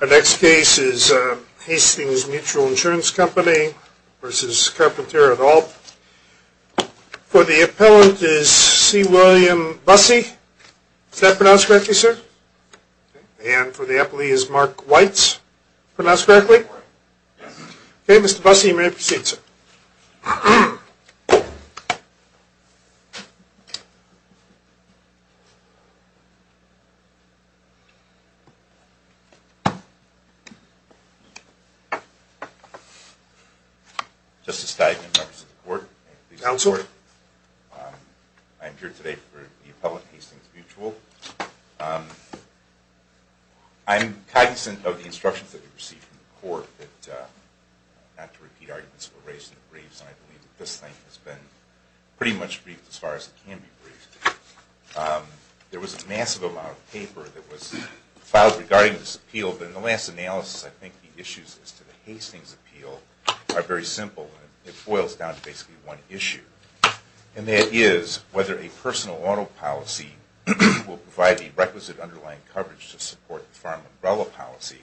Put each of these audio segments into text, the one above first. Our next case is Hastings Mutual Insurance Company v. Carpentier et al. For the appellant is C. William Bussey. Is that pronounced correctly, sir? And for the appellee is Mark Weitz. Pronounced correctly? Justice Steigman, members of the court. I am here today for the appellant, Hastings Mutual. I'm cognizant of the instructions that we received from the court, that not to repeat arguments were raised in the briefs, and I believe that this thing has been pretty much briefed as far as it can be briefed. There was a massive amount of paper that was filed regarding this appeal, but in the last analysis I think the issues as to the Hastings appeal are very simple. It boils down to basically one issue, and that is whether a personal auto policy will provide the requisite underlying coverage to support the Farm Umbrella Policy,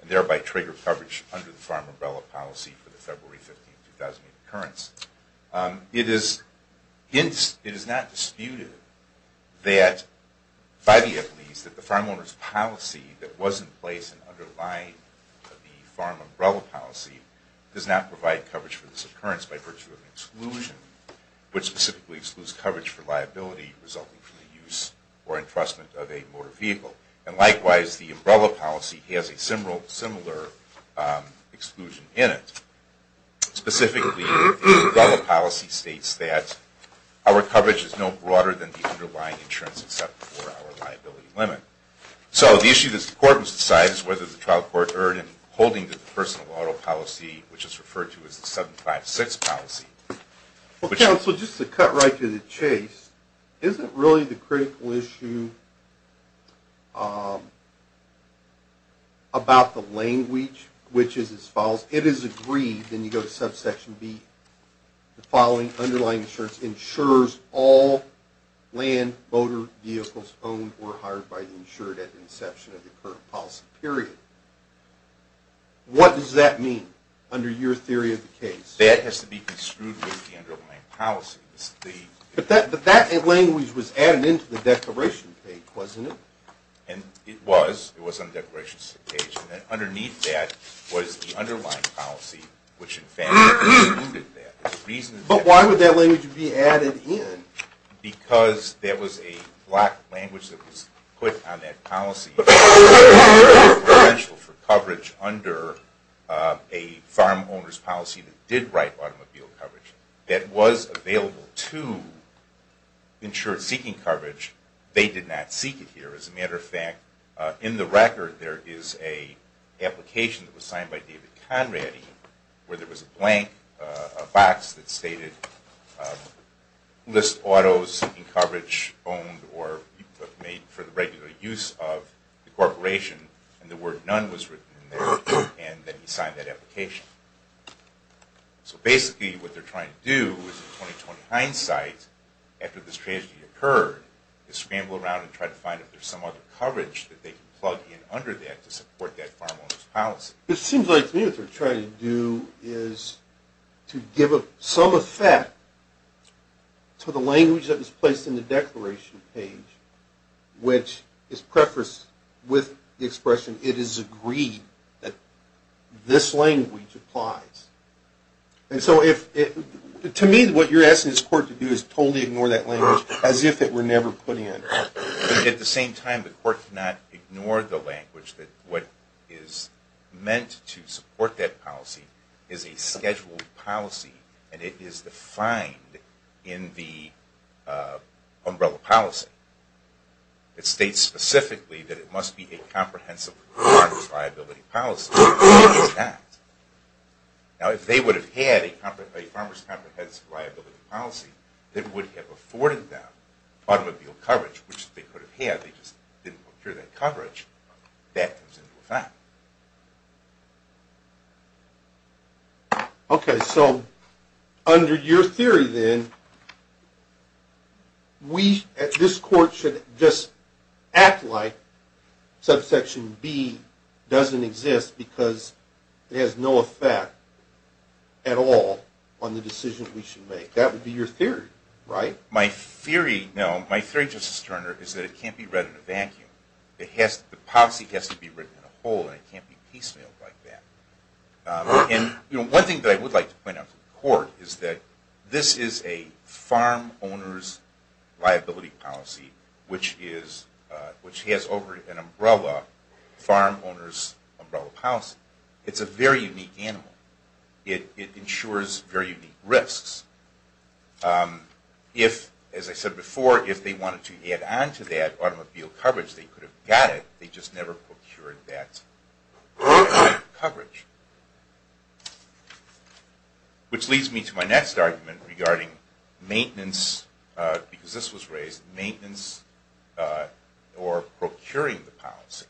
and thereby trigger coverage under the Farm Umbrella Policy for the February 15, 2008 occurrence. It is not disputed that, by the appellees, that the farm owner's policy that was in place and underlying the Farm Umbrella Policy does not provide coverage for this occurrence by virtue of exclusion, which specifically excludes coverage for liability resulting from the use or entrustment of a motor vehicle. And likewise, the Umbrella Policy has a similar exclusion in it. Specifically, the Umbrella Policy states that our coverage is no broader than the underlying insurance except for our liability limit. So the issue that the court must decide is whether the trial court erred in holding the personal auto policy, which is referred to as the 756 policy. Well, counsel, just to cut right to the chase, isn't really the critical issue about the language, which is as follows. If you go to Section 3, then you go to Subsection B, the following underlying insurance ensures all land motor vehicles owned or hired by the insured at the inception of the current policy period. What does that mean under your theory of the case? That has to be construed with the underlying policy. But that language was added into the declaration page, wasn't it? It was. It was on the declaration page. And then underneath that was the underlying policy, which, in fact, excluded that. But why would that language be added in? Because there was a block language that was put on that policy for coverage under a farm owner's policy that did write automobile coverage that was available to insured seeking coverage. They did not seek it here. As a matter of fact, in the record there is an application that was signed by David Conrady where there was a blank box that stated list autos seeking coverage owned or made for the regular use of the corporation. And the word none was written in there. And then he signed that application. So basically what they're trying to do is, in 20-20 hindsight, after this tragedy occurred, to scramble around and try to find if there's some other coverage that they can plug in under that to support that farm owner's policy. It seems like what they're trying to do is to give some effect to the language that was placed in the declaration page, which is prefaced with the expression it is agreed that this language applies. And so to me what you're asking this court to do is totally ignore that language as if it were never put in. At the same time, the court cannot ignore the language that what is meant to support that policy is a scheduled policy and it is defined in the umbrella policy. It states specifically that it must be a comprehensive farmer's liability policy. Now if they would have had a farmer's comprehensive liability policy that would have afforded them automobile coverage, which they could have had, they just didn't procure that coverage, that comes into effect. Okay. So under your theory then, this court should just act like subsection B doesn't exist because it has no effect at all on the decision we should make. That would be your theory, right? My theory, Justice Turner, is that it can't be read in a vacuum. The policy has to be written in a whole and it can't be piecemealed like that. One thing that I would like to point out to the court is that this is a farm owner's It's a very unique animal. It ensures very unique risks. If, as I said before, if they wanted to add on to that automobile coverage, they could have got it, they just never procured that coverage. Which leads me to my next argument regarding maintenance, because this was raised, maintenance or procuring the policy.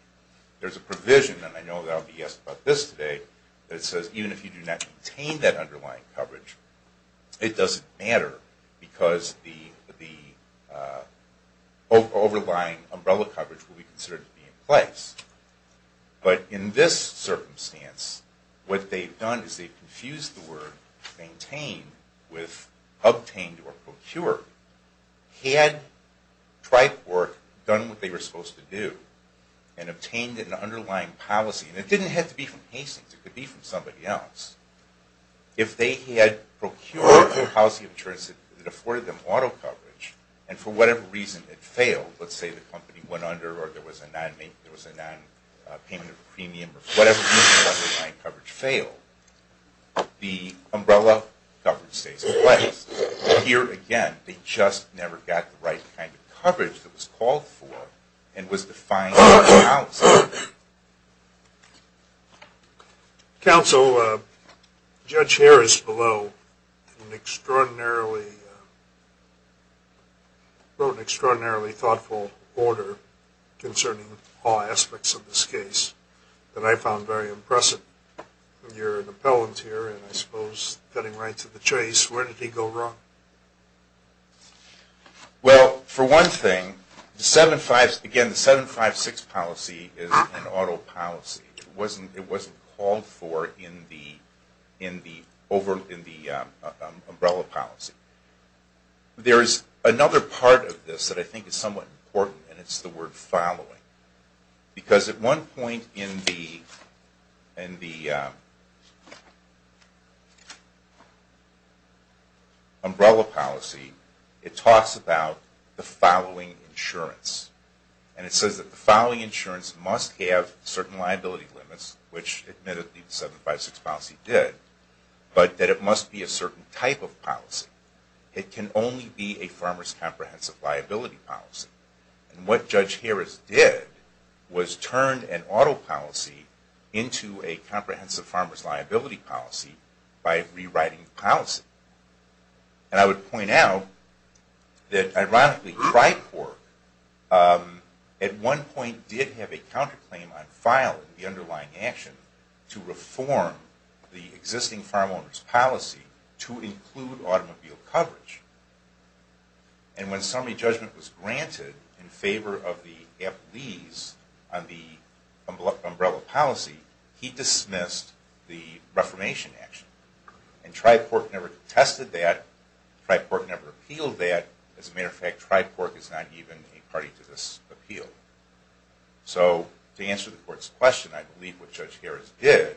There's a provision, and I know that I'll be asked about this today, that says even if you do not maintain that underlying coverage, it doesn't matter because the overlying umbrella coverage will be considered to be in place. But in this circumstance, what they've done is they've confused the word maintain with obtained or procured. Had Tri-Corp done what they were supposed to do and obtained an underlying policy, and it didn't have to be from Hastings, it could be from somebody else, if they had procured or housed the insurance that afforded them auto coverage and for whatever reason it failed, let's say the company went under or there was a non-payment of a premium or whatever reason the underlying coverage failed, the umbrella coverage stays in place. Here again, they just never got the right kind of coverage that was called for and was defined in the policy. Counsel, Judge Harris below wrote an extraordinarily thoughtful order concerning all aspects of this case that I found very impressive. You're an appellant here and I suppose cutting right to the chase. Where did he go wrong? Well, for one thing, the 756 policy is an auto policy. It wasn't called for in the umbrella policy. There is another part of this that I think is somewhat important, and it's the word following. Because at one point in the umbrella policy, it talks about the following insurance. And it says that the following insurance must have certain liability limits, which admittedly the 756 policy did, but that it must be a certain type of policy. It can only be a farmer's comprehensive liability policy. And what Judge Harris did was turn an auto policy into a comprehensive farmer's liability policy by rewriting the policy. And I would point out that ironically TriCorp at one point did have a counterclaim on filing the underlying action to reform the existing farm owner's policy to include automobile coverage. And when summary judgment was granted in favor of the appellees on the umbrella policy, he dismissed the reformation action. And TriCorp never contested that. TriCorp never appealed that. As a matter of fact, TriCorp is not even a party to this appeal. So to answer the court's question, I believe what Judge Harris did,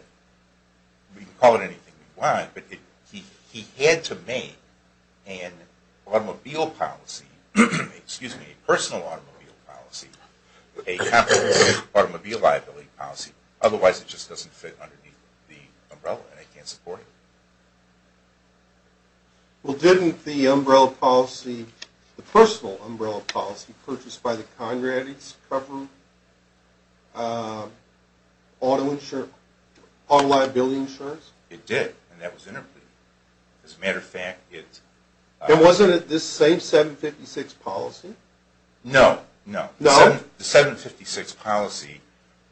we can call it anything we want, but he had to make an automobile policy, excuse me, a personal automobile policy, a comprehensive automobile liability policy. Otherwise, it just doesn't fit underneath the umbrella, and they can't support it. Well, didn't the umbrella policy, the personal umbrella policy, be purchased by the Congress to cover auto liability insurance? It did, and that was interpreted. As a matter of fact, it – And wasn't it this same 756 policy? No, no. No? The 756 policy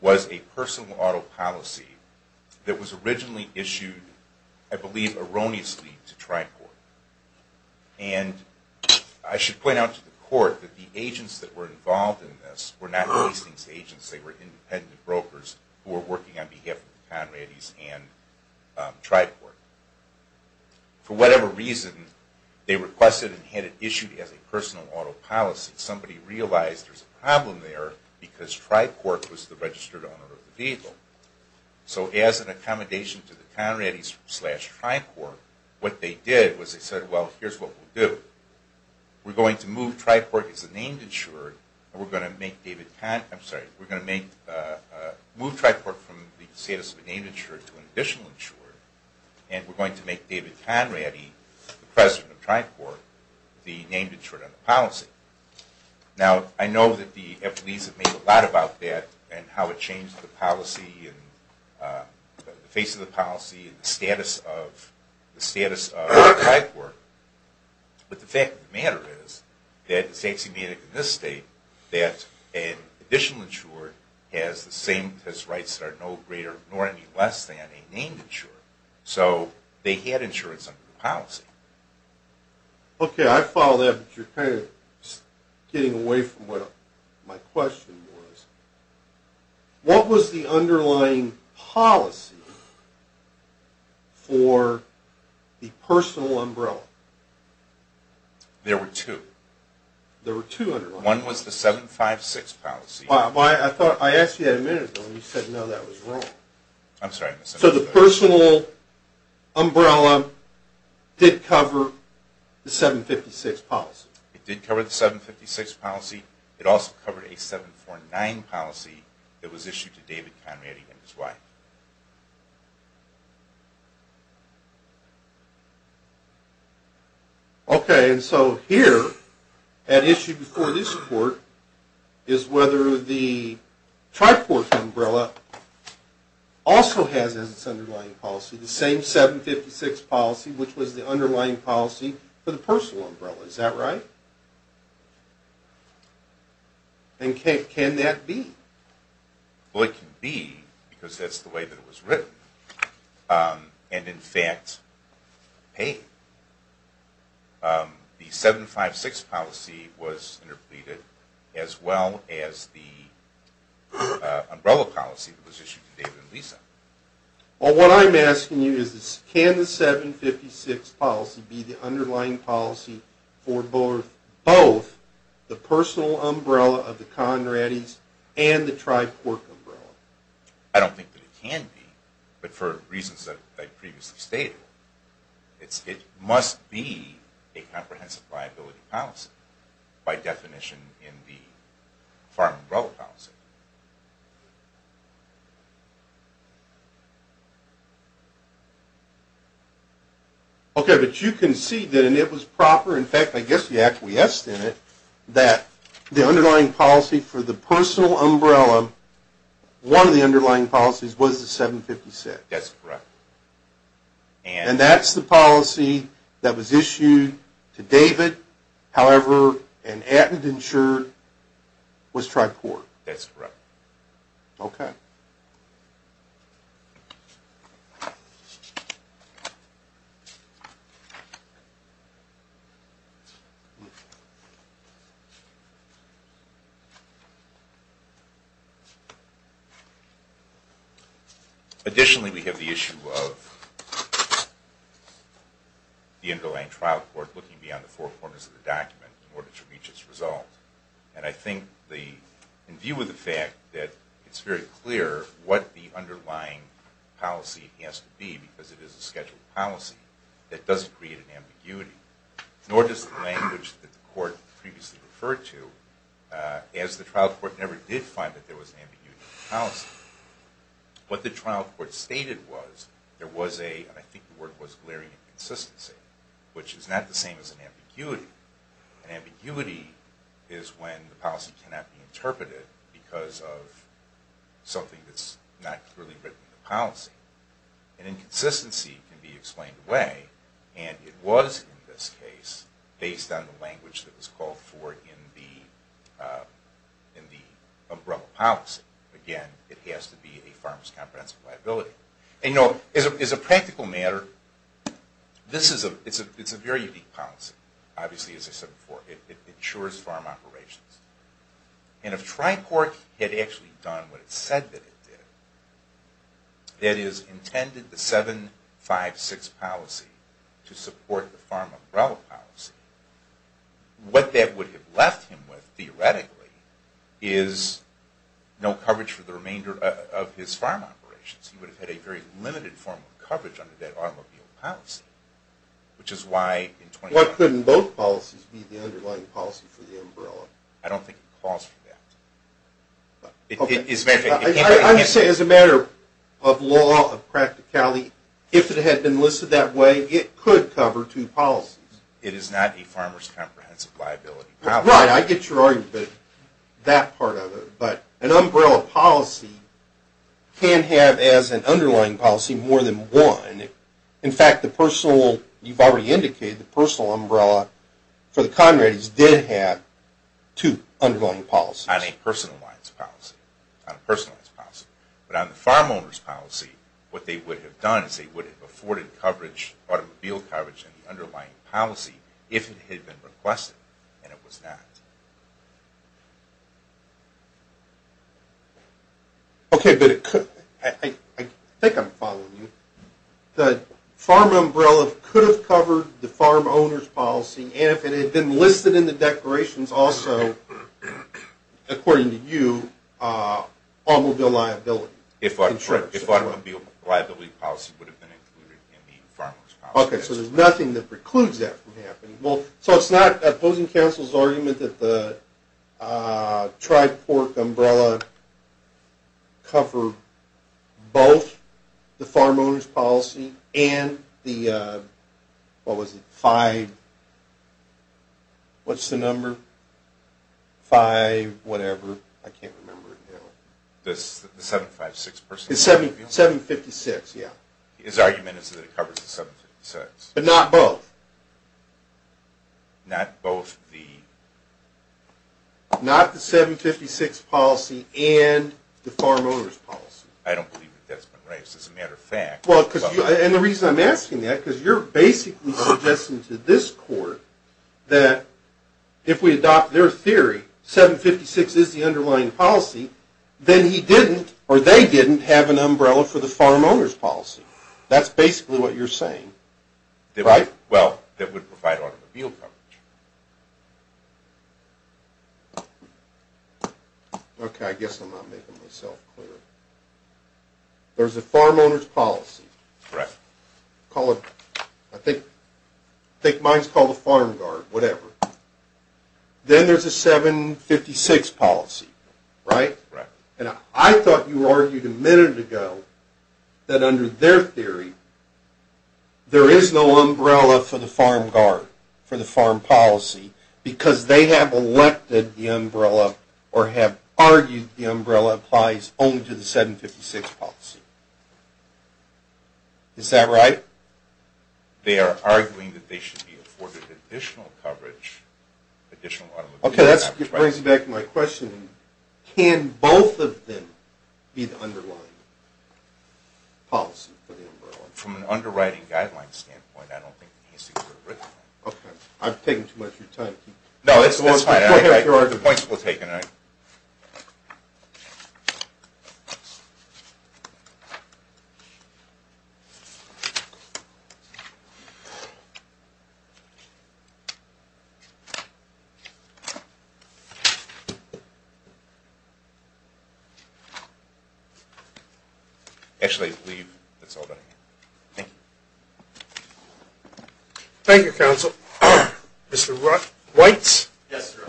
was a personal auto policy that was originally issued, I believe erroneously, to TriCorp. And I should point out to the court that the agents that were involved in this were not leasing agents. They were independent brokers who were working on behalf of the Conrades and TriCorp. For whatever reason, they requested and had it issued as a personal auto policy. Somebody realized there's a problem there because TriCorp was the registered owner of the vehicle. So as an accommodation to the Conrades slash TriCorp, what they did was they said, well, here's what we'll do. We're going to move TriCorp as a named insured, and we're going to make David – I'm sorry. We're going to move TriCorp from the status of a named insured to an additional insured, and we're going to make David Conrady, the president of TriCorp, the named insured on the policy. Now, I know that the FLEs have made a lot about that and how it changed the policy and the face of the policy and the status of TriCorp. But the fact of the matter is that it's axiomatic in this state that an additional insured has rights that are no greater nor any less than a named insured. So they had insurance under the policy. Okay. I follow that, but you're kind of getting away from what my question was. What was the underlying policy for the personal umbrella? There were two. There were two underlying policies. One was the 756 policy. I asked you that a minute ago, and you said, no, that was wrong. I'm sorry. So the personal umbrella did cover the 756 policy. It did cover the 756 policy. It also covered a 749 policy that was issued to David Conrady and his wife. Okay. And so here, at issue before this report, is whether the TriCorp umbrella also has its underlying policy, the same 756 policy, which was the underlying policy for the personal umbrella. Is that right? And can that be? Well, it can be, because that's the way that it was written. And, in fact, paid. The 756 policy was interpreted as well as the umbrella policy that was issued to David and Lisa. Well, what I'm asking you is, can the 756 policy be the underlying policy for both the personal umbrella of the Conradys and the TriCorp umbrella? I don't think that it can be. But for reasons that I previously stated, it must be a comprehensive liability policy by definition in the farm umbrella policy. Okay. But you concede that it was proper. In fact, I guess you acquiesced in it, that the underlying policy for the personal umbrella, one of the underlying policies, was the 756. That's correct. And that's the policy that was issued to David, however, and at and insured, was TriCorp. That's correct. Okay. Additionally, we have the issue of the underlying trial court looking beyond the four corners of the document in order to reach its result. And I think, in view of the fact that it's very clear what the underlying policy has to be, because it is a scheduled policy, that doesn't create an ambiguity. Nor does the language that the court previously referred to, as the trial court never did find that there was an ambiguity in the policy. What the trial court stated was, there was a, and I think the word was, glaring inconsistency, which is not the same as an ambiguity. An ambiguity is when the policy cannot be interpreted because of something that's not clearly written in the policy. An inconsistency can be explained away, and it was, in this case, based on the language that was called for in the umbrella policy. Again, it has to be a farmer's comprehensive liability. And no, as a practical matter, this is a, it's a very unique policy. Obviously, as I said before, it insures farm operations. And if trial court had actually done what it said that it did, that is, intended the 756 policy to support the farm umbrella policy, what that would have left him with, theoretically, is no coverage for the remainder of his farm operations. He would have had a very limited form of coverage under that automobile policy, which is why Why couldn't both policies be the underlying policy for the umbrella? I don't think it calls for that. I'm saying, as a matter of law, of practicality, if it had been listed that way, it could cover two policies. It is not a farmer's comprehensive liability policy. Right. I get your argument about that part of it. But an umbrella policy can have, as an underlying policy, more than one. In fact, the personal, you've already indicated, the personal umbrella for the Conradys did have two underlying policies. Not a personalized policy. Not a personalized policy. But on the farm owner's policy, what they would have done is they would have afforded coverage, automobile coverage, in the underlying policy if it had been requested, and it was not. Okay, but I think I'm following you. The farm umbrella could have covered the farm owner's policy, and if it had been listed in the declarations also, according to you, automobile liability. If automobile liability policy would have been included in the farmer's policy. Okay, so there's nothing that precludes that from happening. So it's not opposing counsel's argument that the tri-port umbrella cover both the farm owner's policy and the, what was it, five, what's the number, five whatever, I can't remember it now. The 756 person? 756, yeah. His argument is that it covers the 756. But not both. Not both the? Not the 756 policy and the farm owner's policy. I don't believe that that's been raised. As a matter of fact. And the reason I'm asking that is because you're basically suggesting to this court that if we adopt their theory, 756 is the underlying policy, then he didn't, or they didn't have an umbrella for the farm owner's policy. That's basically what you're saying, right? Well, that would provide automobile coverage. Okay, I guess I'm not making myself clear. There's a farm owner's policy. Correct. I think mine's called a farm guard, whatever. Then there's a 756 policy, right? Right. And I thought you argued a minute ago that under their theory there is no umbrella for the farm guard, for the farm policy, because they have elected the umbrella or have argued the umbrella applies only to the 756 policy. Is that right? They are arguing that they should be afforded additional coverage, additional automobile coverage. Okay, that brings me back to my question. Can both of them be the underlying policy for the umbrella? From an underwriting guideline standpoint, I don't think it needs to be written. Okay. I've taken too much of your time. No, it's fine. Go ahead with your argument. The points were taken. Actually, leave. That's all that I have. Thank you. Thank you, Counsel. Mr. Weitz. Yes, sir.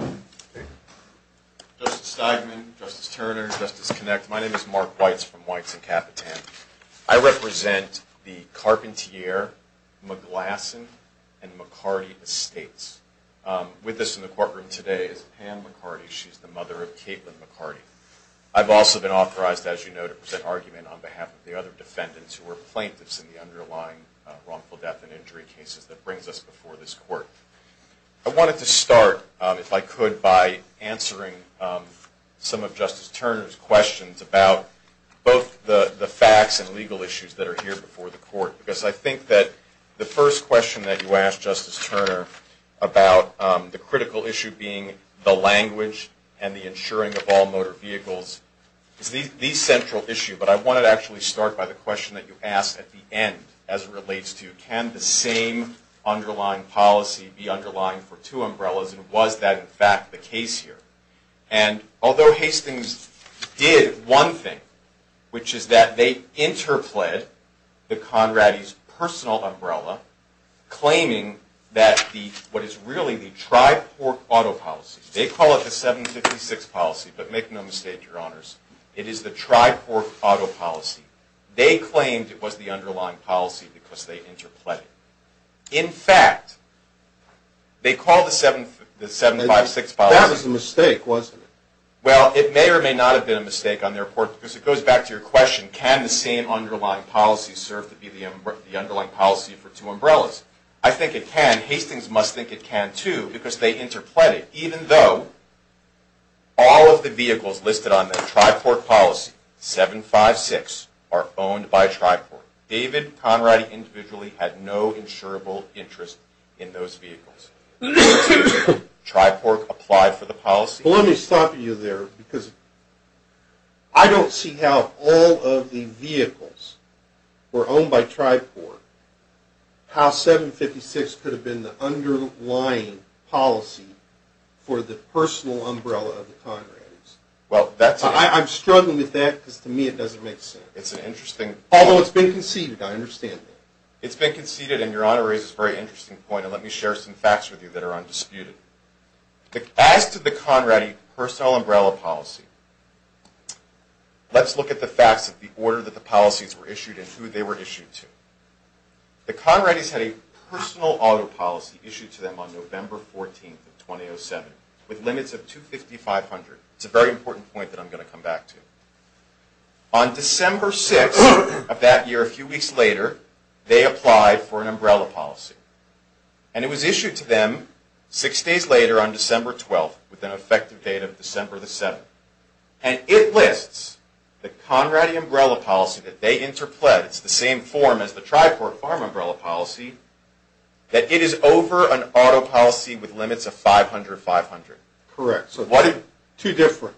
Justice Steigman, Justice Turner, Justice Kinect, my name is Mark Weitz from Weitz & Kapitan. I represent the Carpentier, McGlasson, and McCarty Estates. She's the mother of two children. I've also been authorized, as you know, to present argument on behalf of the other defendants who are plaintiffs in the underlying wrongful death and injury cases that brings us before this court. I wanted to start, if I could, by answering some of Justice Turner's questions about both the facts and legal issues that are here before the court, because I think that the first question that you asked, Justice Turner, about the critical issue being the language and the insuring of all motor vehicles is the central issue. But I wanted to actually start by the question that you asked at the end as it relates to can the same underlying policy be underlying for two umbrellas and was that, in fact, the case here. And although Hastings did one thing, which is that they interplayed the Conradis' personal umbrella, claiming that what is really the tri-port auto policy. They call it the 756 policy, but make no mistake, Your Honors, it is the tri-port auto policy. They claimed it was the underlying policy because they interplayed it. In fact, they called the 756 policy... That was a mistake, wasn't it? Well, it may or may not have been a mistake on their part, because it goes back to your question, can the same underlying policy serve to be the underlying policy for two umbrellas. I think it can. Hastings must think it can, too, because they interplayed it, even though all of the vehicles listed on the tri-port policy, 756, are owned by tri-port. David Conradi individually had no insurable interest in those vehicles. Tri-port applied for the policy. But let me stop you there, because I don't see how all of the vehicles were owned by tri-port, how 756 could have been the underlying policy for the personal umbrella of the Conradis. I'm struggling with that, because to me it doesn't make sense. It's an interesting point. Although it's been conceded, I understand that. It's been conceded, and Your Honor raises a very interesting point, and let me share some facts with you that are undisputed. As to the Conradi personal umbrella policy, let's look at the facts of the order that the policies were issued and who they were issued to. The Conradis had a personal auto policy issued to them on November 14th of 2007 with limits of $250,500. It's a very important point that I'm going to come back to. On December 6th of that year, a few weeks later, they applied for an umbrella policy. It was issued to them six days later on December 12th with an effective date of December 7th. It lists the Conradi umbrella policy that they interpled. It's the same form as the tri-port farm umbrella policy, that it is over an auto policy with limits of $500,500. Correct. Two different.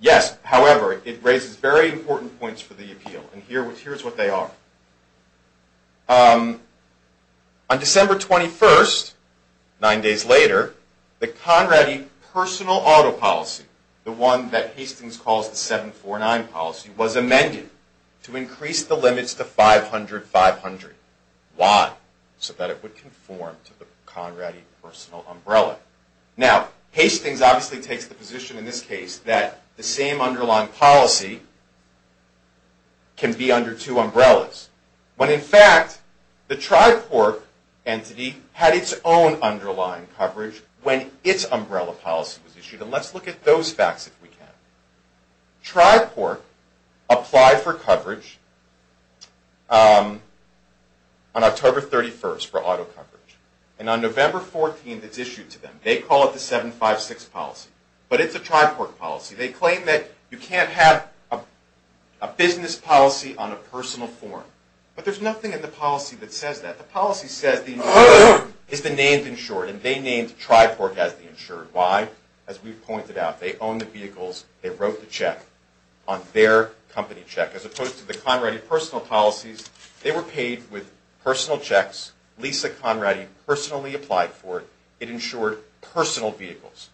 Yes. However, it raises very important points for the appeal, and here's what they are. On December 21st, nine days later, the Conradi personal auto policy, the one that Hastings calls the 749 policy, was amended to increase the limits to $500,500. Why? So that it would conform to the Conradi personal umbrella. Now, Hastings obviously takes the position in this case that the same underlying policy can be under two umbrellas. When in fact, the tri-port entity had its own underlying coverage when its umbrella policy was issued. And let's look at those facts if we can. Tri-port applied for coverage on October 31st for auto coverage. And on November 14th, it's issued to them. They call it the 756 policy. But it's a tri-port policy. They claim that you can't have a business policy on a personal form. But there's nothing in the policy that says that. The policy says the insured is the named insured, and they named tri-port as the insured. Why? As we've pointed out, they own the vehicles. They wrote the check on their company check, as opposed to the Conradi personal policies. They were paid with personal checks. Lisa Conradi personally applied for it. It insured personal vehicles.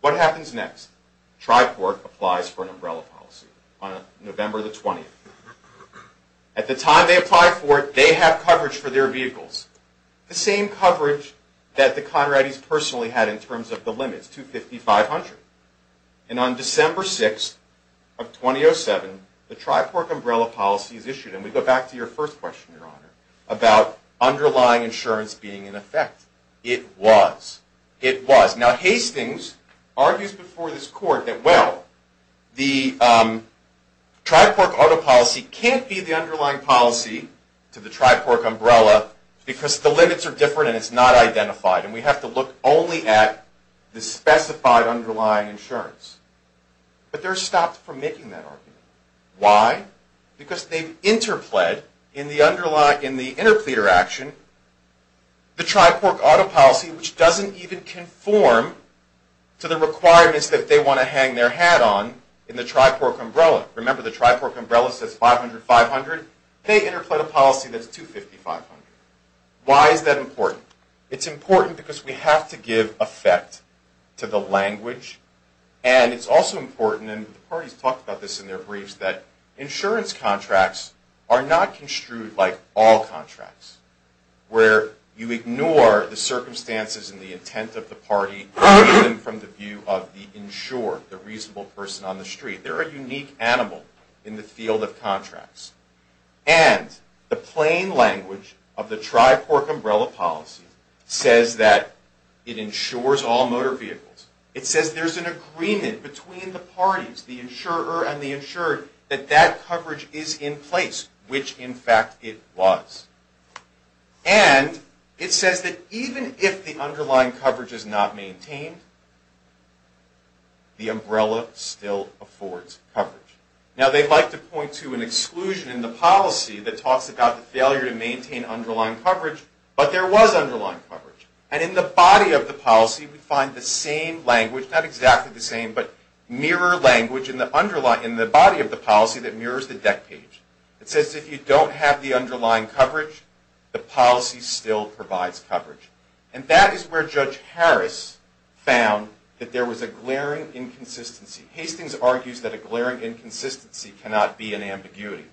What happens next? Tri-port applies for an umbrella policy on November the 20th. At the time they applied for it, they have coverage for their vehicles. The same coverage that the Conradis personally had in terms of the limits, 250, 500. And on December 6th of 2007, the tri-port umbrella policy is issued. And we go back to your first question, Your Honor, about underlying insurance being in effect. It was. It was. Now, Hastings argues before this court that, well, the tri-port auto policy can't be the underlying policy to the tri-port umbrella because the limits are different and it's not identified. And we have to look only at the specified underlying insurance. But they're stopped from making that argument. Why? Because they've interpled in the interpleader action the tri-port auto policy, which doesn't even conform to the requirements that they want to hang their hat on in the tri-port umbrella. Remember, the tri-port umbrella says 500, 500. They interpled a policy that's 250, 500. Why is that important? It's important because we have to give effect to the language. And it's also important, and the parties talked about this in their briefs, that insurance contracts are not construed like all contracts, where you ignore the circumstances and the intent of the party, even from the view of the insurer, the reasonable person on the street. They're a unique animal in the field of contracts. And the plain language of the tri-port umbrella policy says that it insures all motor vehicles. It says there's an agreement between the parties, the insurer and the insured, that that coverage is in place, which, in fact, it was. And it says that even if the underlying coverage is not maintained, the umbrella still affords coverage. Now, they'd like to point to an exclusion in the policy that talks about the failure to maintain underlying coverage, but there was underlying coverage. And in the body of the policy, we find the same language, not exactly the same, but mirror language in the body of the policy that mirrors the deck page. It says if you don't have the underlying coverage, the policy still provides coverage. And that is where Judge Harris found that there was a glaring inconsistency. Hastings argues that a glaring inconsistency cannot be an ambiguity.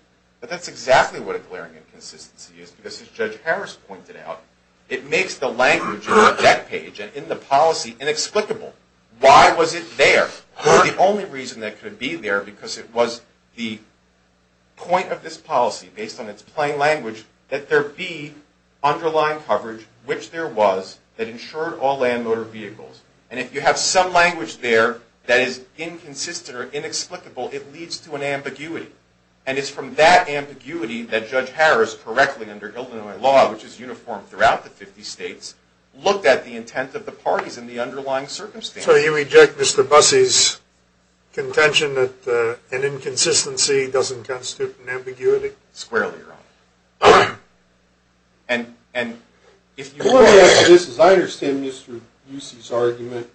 But that's exactly what a glaring inconsistency is, because, as Judge Harris pointed out, it makes the language in the deck page and in the policy inexplicable. Why was it there? The only reason it could be there, because it was the point of this policy, based on its plain language, that there be underlying coverage, which there was, that insured all land motor vehicles. And if you have some language there that is inconsistent or inexplicable, it leads to an ambiguity. And it's from that ambiguity that Judge Harris, correctly under Illinois law, which is uniform throughout the 50 states, looked at the intent of the parties and the underlying circumstances. So you reject Mr. Bussey's contention that an inconsistency doesn't constitute an ambiguity? Squarely wrong. And if you want to ask this, as I understand Mr. Bussey's argument,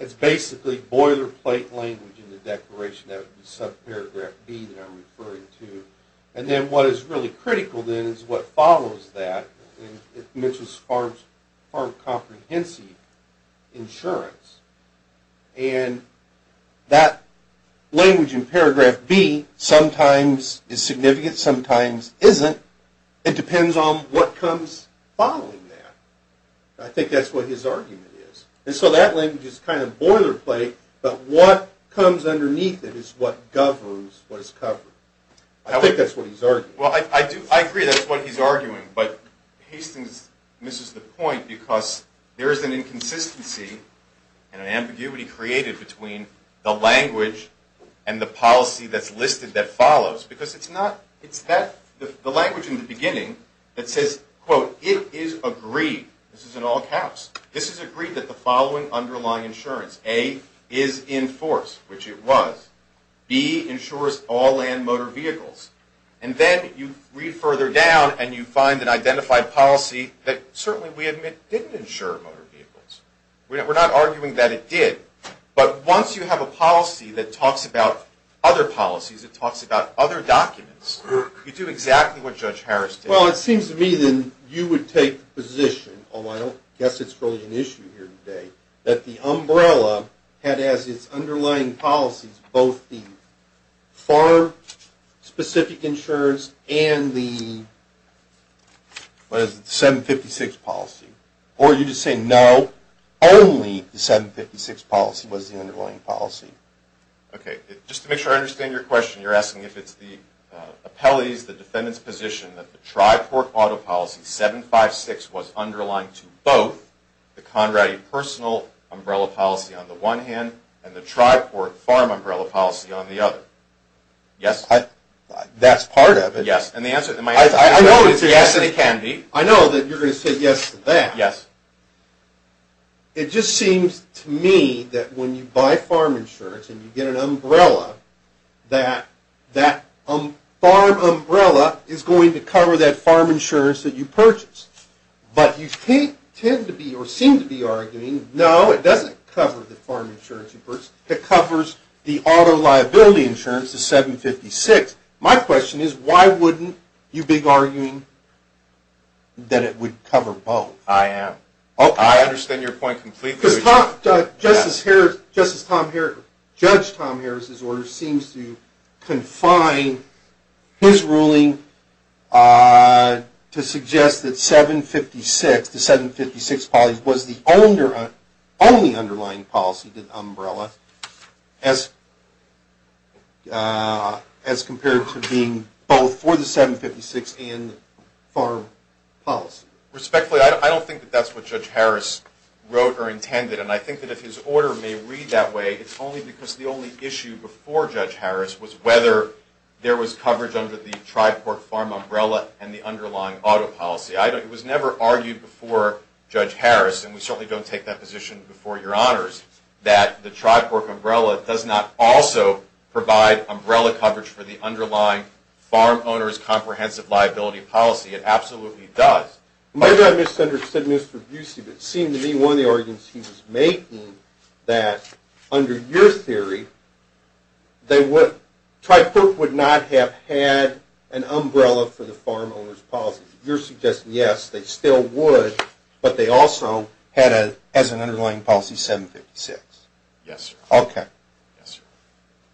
it's basically boilerplate language in the declaration. That would be subparagraph B that I'm referring to. And then what is really critical, then, is what follows that. It mentions farm comprehensive insurance. And that language in paragraph B sometimes is significant, sometimes isn't. It depends on what comes following that. I think that's what his argument is. And so that language is kind of boilerplate, but what comes underneath it is what governs what is covered. I think that's what he's arguing. Well, I do. I agree that's what he's arguing. But Hastings misses the point because there is an inconsistency and an ambiguity created between the language and the policy that's listed that follows. Because it's the language in the beginning that says, quote, This is in all caps. This is agreed that the following underlying insurance, A, is in force, which it was. B, insures all land motor vehicles. And then you read further down and you find an identified policy that certainly we admit didn't insure motor vehicles. We're not arguing that it did. But once you have a policy that talks about other policies, it talks about other documents, you do exactly what Judge Harris did. Well, it seems to me then you would take the position, although I don't guess it's really an issue here today, that the umbrella had as its underlying policies both the firm-specific insurance and the 756 policy. Or you just say no, only the 756 policy was the underlying policy. Okay. Just to make sure I understand your question, you're asking if it's the appellee's, the defendant's, position that the Tri-Port Auto Policy 756 was underlying to both the Conradi Personal Umbrella Policy on the one hand and the Tri-Port Farm Umbrella Policy on the other. Yes? That's part of it. Yes. And the answer to my question is yes, it can be. I know that you're going to say yes to that. Yes. It just seems to me that when you buy farm insurance and you get an umbrella that that farm umbrella is going to cover that farm insurance that you purchased. But you tend to be or seem to be arguing no, it doesn't cover the farm insurance. It covers the auto liability insurance, the 756. My question is why wouldn't you be arguing that it would cover both? I am. I understand your point completely. Just as Judge Tom Harris's order seems to confine his ruling to suggest that 756, the 756 policy was the only underlying policy, the umbrella, as compared to being both for the 756 and farm policy. Respectfully, I don't think that that's what Judge Harris wrote or intended. And I think that if his order may read that way, it's only because the only issue before Judge Harris was whether there was coverage under the Tri-Port Farm Umbrella and the underlying auto policy. It was never argued before Judge Harris, and we certainly don't take that position before your honors, that the Tri-Port Umbrella does not also provide umbrella coverage for the underlying farm owner's comprehensive liability policy. It absolutely does. Maybe I misunderstood Mr. Busey, but it seemed to me one of the arguments he was making that under your theory, Tri-Port would not have had an umbrella for the farm owner's policy. You're suggesting, yes, they still would, but they also had as an underlying policy 756. Yes, sir. Okay.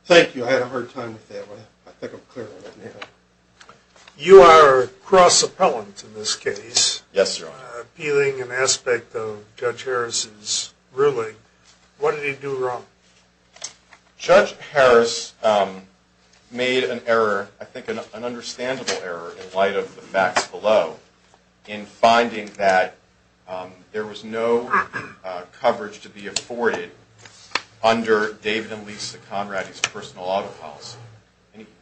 Thank you. I had a hard time with that one. I think I'm clear on that now. You are cross-appellant in this case. Yes, Your Honor. Appealing an aspect of Judge Harris's ruling. What did he do wrong? Judge Harris made an error, I think an understandable error, in light of the facts below in finding that there was no coverage to be afforded under David and Lisa Conrady's personal auto policy.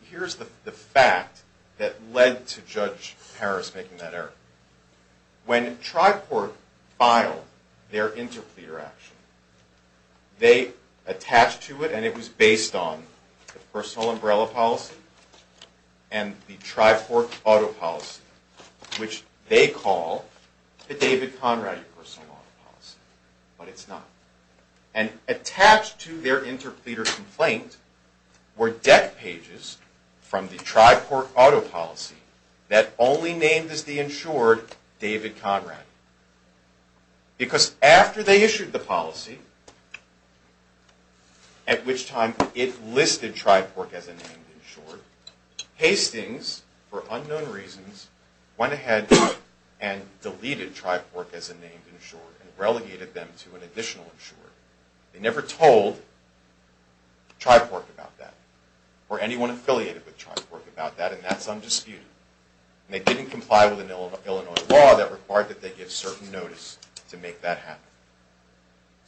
Here's the fact that led to Judge Harris making that error. When Tri-Port filed their interpleader action, they attached to it, and it was based on, the personal umbrella policy and the Tri-Port auto policy, which they call the David Conrady personal auto policy. But it's not. Attached to their interpleader complaint were deck pages from the Tri-Port auto policy that only named as the insured David Conrady. Because after they issued the policy, at which time it listed Tri-Port as a named insured, Hastings, for unknown reasons, went ahead and deleted Tri-Port as a named insured and relegated them to an additional insured. They never told Tri-Port about that, or anyone affiliated with Tri-Port about that, and that's undisputed. And they didn't comply with an Illinois law that required that they give certain notice to make that happen.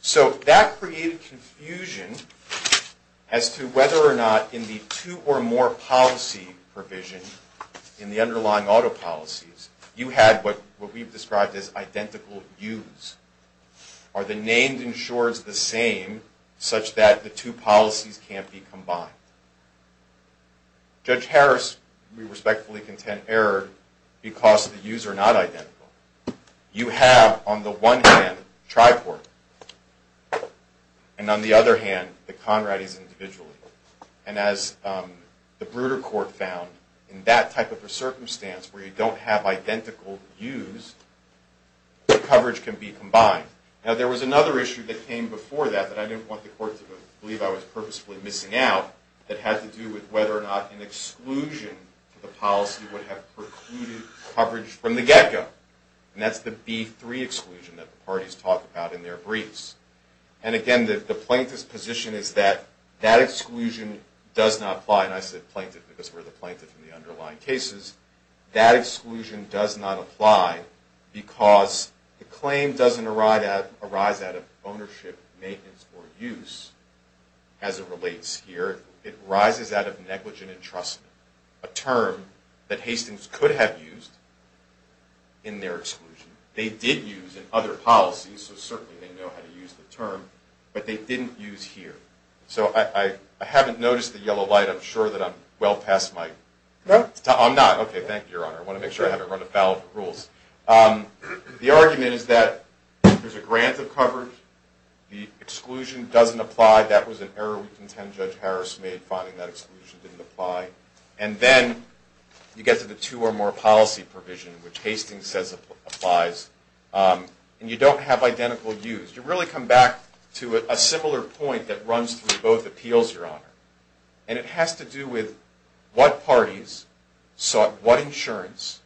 So that created confusion as to whether or not in the two or more policy provision, in the underlying auto policies, you had what we've described as identical use. Are the named insureds the same, such that the two policies can't be combined? Judge Harris, we respectfully contend, erred because the use are not identical. You have, on the one hand, Tri-Port, and on the other hand, the Conradys individually. And as the Bruder Court found, in that type of a circumstance where you don't have identical use, the coverage can be combined. Now, there was another issue that came before that, that I didn't want the court to believe I was purposefully missing out, that had to do with whether or not an exclusion to the policy would have precluded coverage from the get-go. And that's the B3 exclusion that the parties talk about in their briefs. And again, the plaintiff's position is that that exclusion does not apply. And I said plaintiff because we're the plaintiff in the underlying cases. That exclusion does not apply because the claim doesn't arise out of ownership, maintenance, or use, as it relates here. It arises out of negligent entrustment, a term that Hastings could have used in their exclusion. They did use in other policies, so certainly they know how to use the term. But they didn't use here. So I haven't noticed the yellow light. I'm sure that I'm well past my time. I'm not. Okay, thank you, Your Honor. I want to make sure I haven't run afoul of the rules. The argument is that there's a grant of coverage. The exclusion doesn't apply. That was an error we contend Judge Harris made, finding that exclusion didn't apply. And then you get to the two or more policy provision, which Hastings says applies. And you don't have identical use. You really come back to a similar point that runs through both appeals, Your Honor. And it has to do with what parties sought what insurance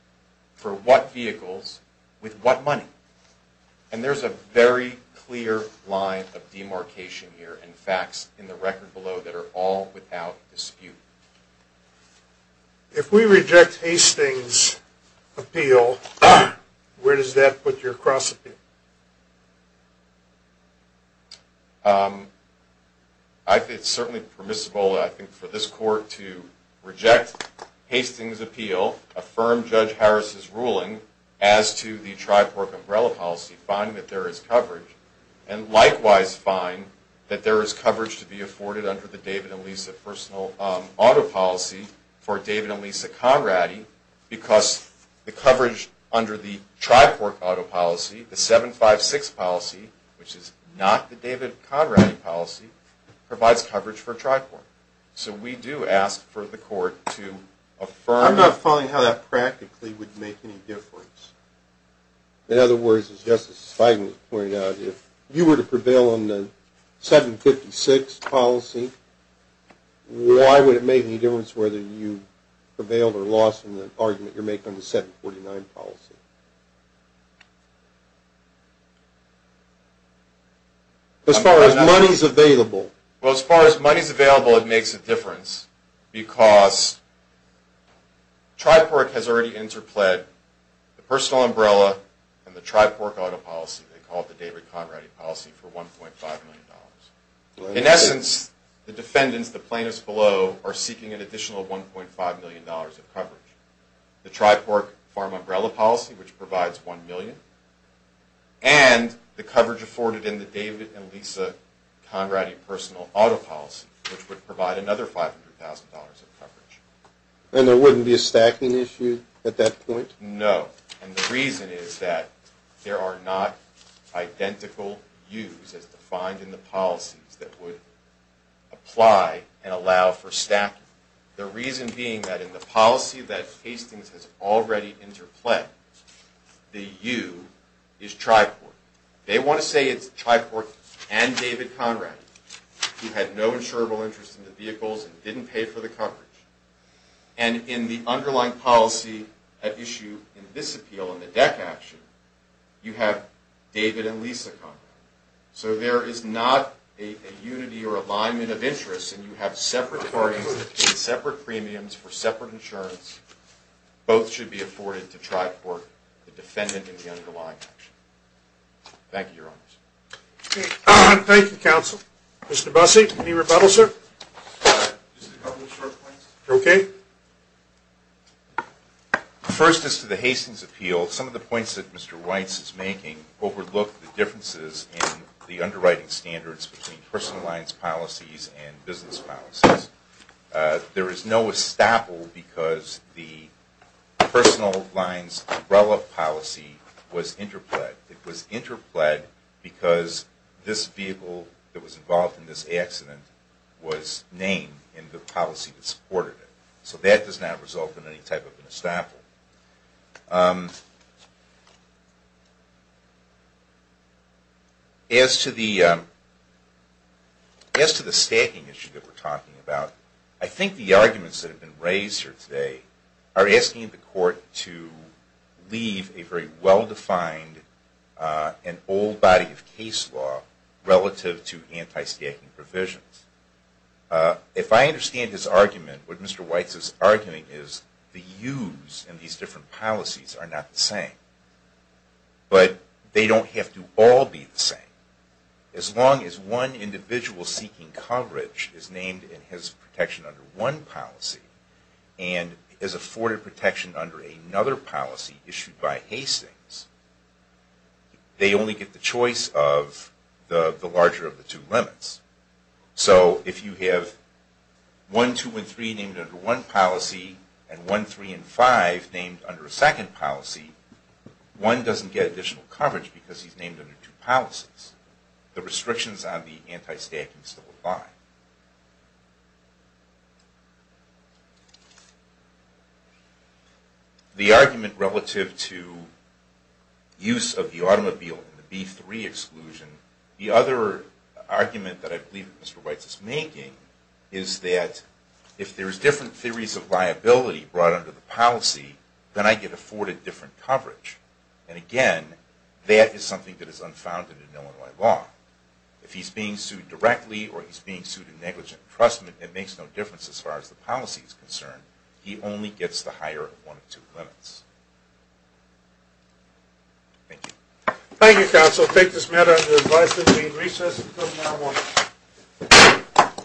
for what vehicles with what money. And there's a very clear line of demarcation here and facts in the record below that are all without dispute. If we reject Hastings' appeal, where does that put your cross-appeal? It's certainly permissible, I think, for this Court to reject Hastings' appeal, affirm Judge Harris' ruling as to the TRIPORC umbrella policy, find that there is coverage, and likewise find that there is coverage to be afforded under the David and Lisa personal auto policy for David and Lisa Conradti because the coverage under the TRIPORC auto policy, the 756 policy, which is not the David Conradti policy, provides coverage for TRIPORC. So we do ask for the Court to affirm. I'm not following how that practically would make any difference. In other words, as Justice Feigin pointed out, if you were to prevail on the 756 policy, why would it make any difference whether you prevailed or lost in the argument you're making on the 749 policy? As far as money's available. Well, as far as money's available, it makes a difference because TRIPORC has already interpled the personal umbrella and the TRIPORC auto policy. They call it the David Conradti policy for $1.5 million. In essence, the defendants, the plaintiffs below, are seeking an additional $1.5 million of coverage. The TRIPORC farm umbrella policy, which provides $1 million, and the coverage afforded in the David and Lisa Conradti personal auto policy, which would provide another $500,000 of coverage. And there wouldn't be a stacking issue at that point? No, and the reason is that there are not identical use as defined in the policies that would apply and allow for stacking. The reason being that in the policy that Hastings has already interpled, the U is TRIPORC. They want to say it's TRIPORC and David Conradti, who had no insurable interest in the vehicles and didn't pay for the coverage. And in the underlying policy at issue in this appeal, in the DEC action, you have David and Lisa Conradti. So there is not a unity or alignment of interest, and you have separate parties that pay separate premiums for separate insurance. Both should be afforded to TRIPORC, the defendant in the underlying action. Thank you, Your Honors. Thank you, Counsel. Mr. Busse, any rebuttal, sir? Just a couple of short points. Okay. First is to the Hastings appeal. Well, some of the points that Mr. Weitz is making overlook the differences in the underwriting standards between personal lines policies and business policies. There is no estoppel because the personal lines umbrella policy was interpled. It was interpled because this vehicle that was involved in this accident was named in the policy that supported it. So that does not result in any type of an estoppel. As to the stacking issue that we're talking about, I think the arguments that have been raised here today are asking the Court to leave a very well-defined and old body of case law relative to anti-stacking provisions. If I understand his argument, what Mr. Weitz is arguing is the use in these different policies are not the same. But they don't have to all be the same. As long as one individual seeking coverage is named and has protection under one policy and is afforded protection under another policy issued by Hastings, they only get the choice of the larger of the two limits. So if you have 1, 2, and 3 named under one policy and 1, 3, and 5 named under a second policy, 1 doesn't get additional coverage because he's named under two policies. The restrictions on the anti-stacking still apply. The argument relative to use of the automobile in the B-3 exclusion, the other argument that I believe Mr. Weitz is making is that if there are different theories of liability brought under the policy, then I get afforded different coverage. And again, that is something that is unfounded in Illinois law. It makes no difference as far as the policy is concerned. He only gets the higher of one of two limits. Thank you. Thank you, counsel. I take this matter under advice that we recess until tomorrow morning.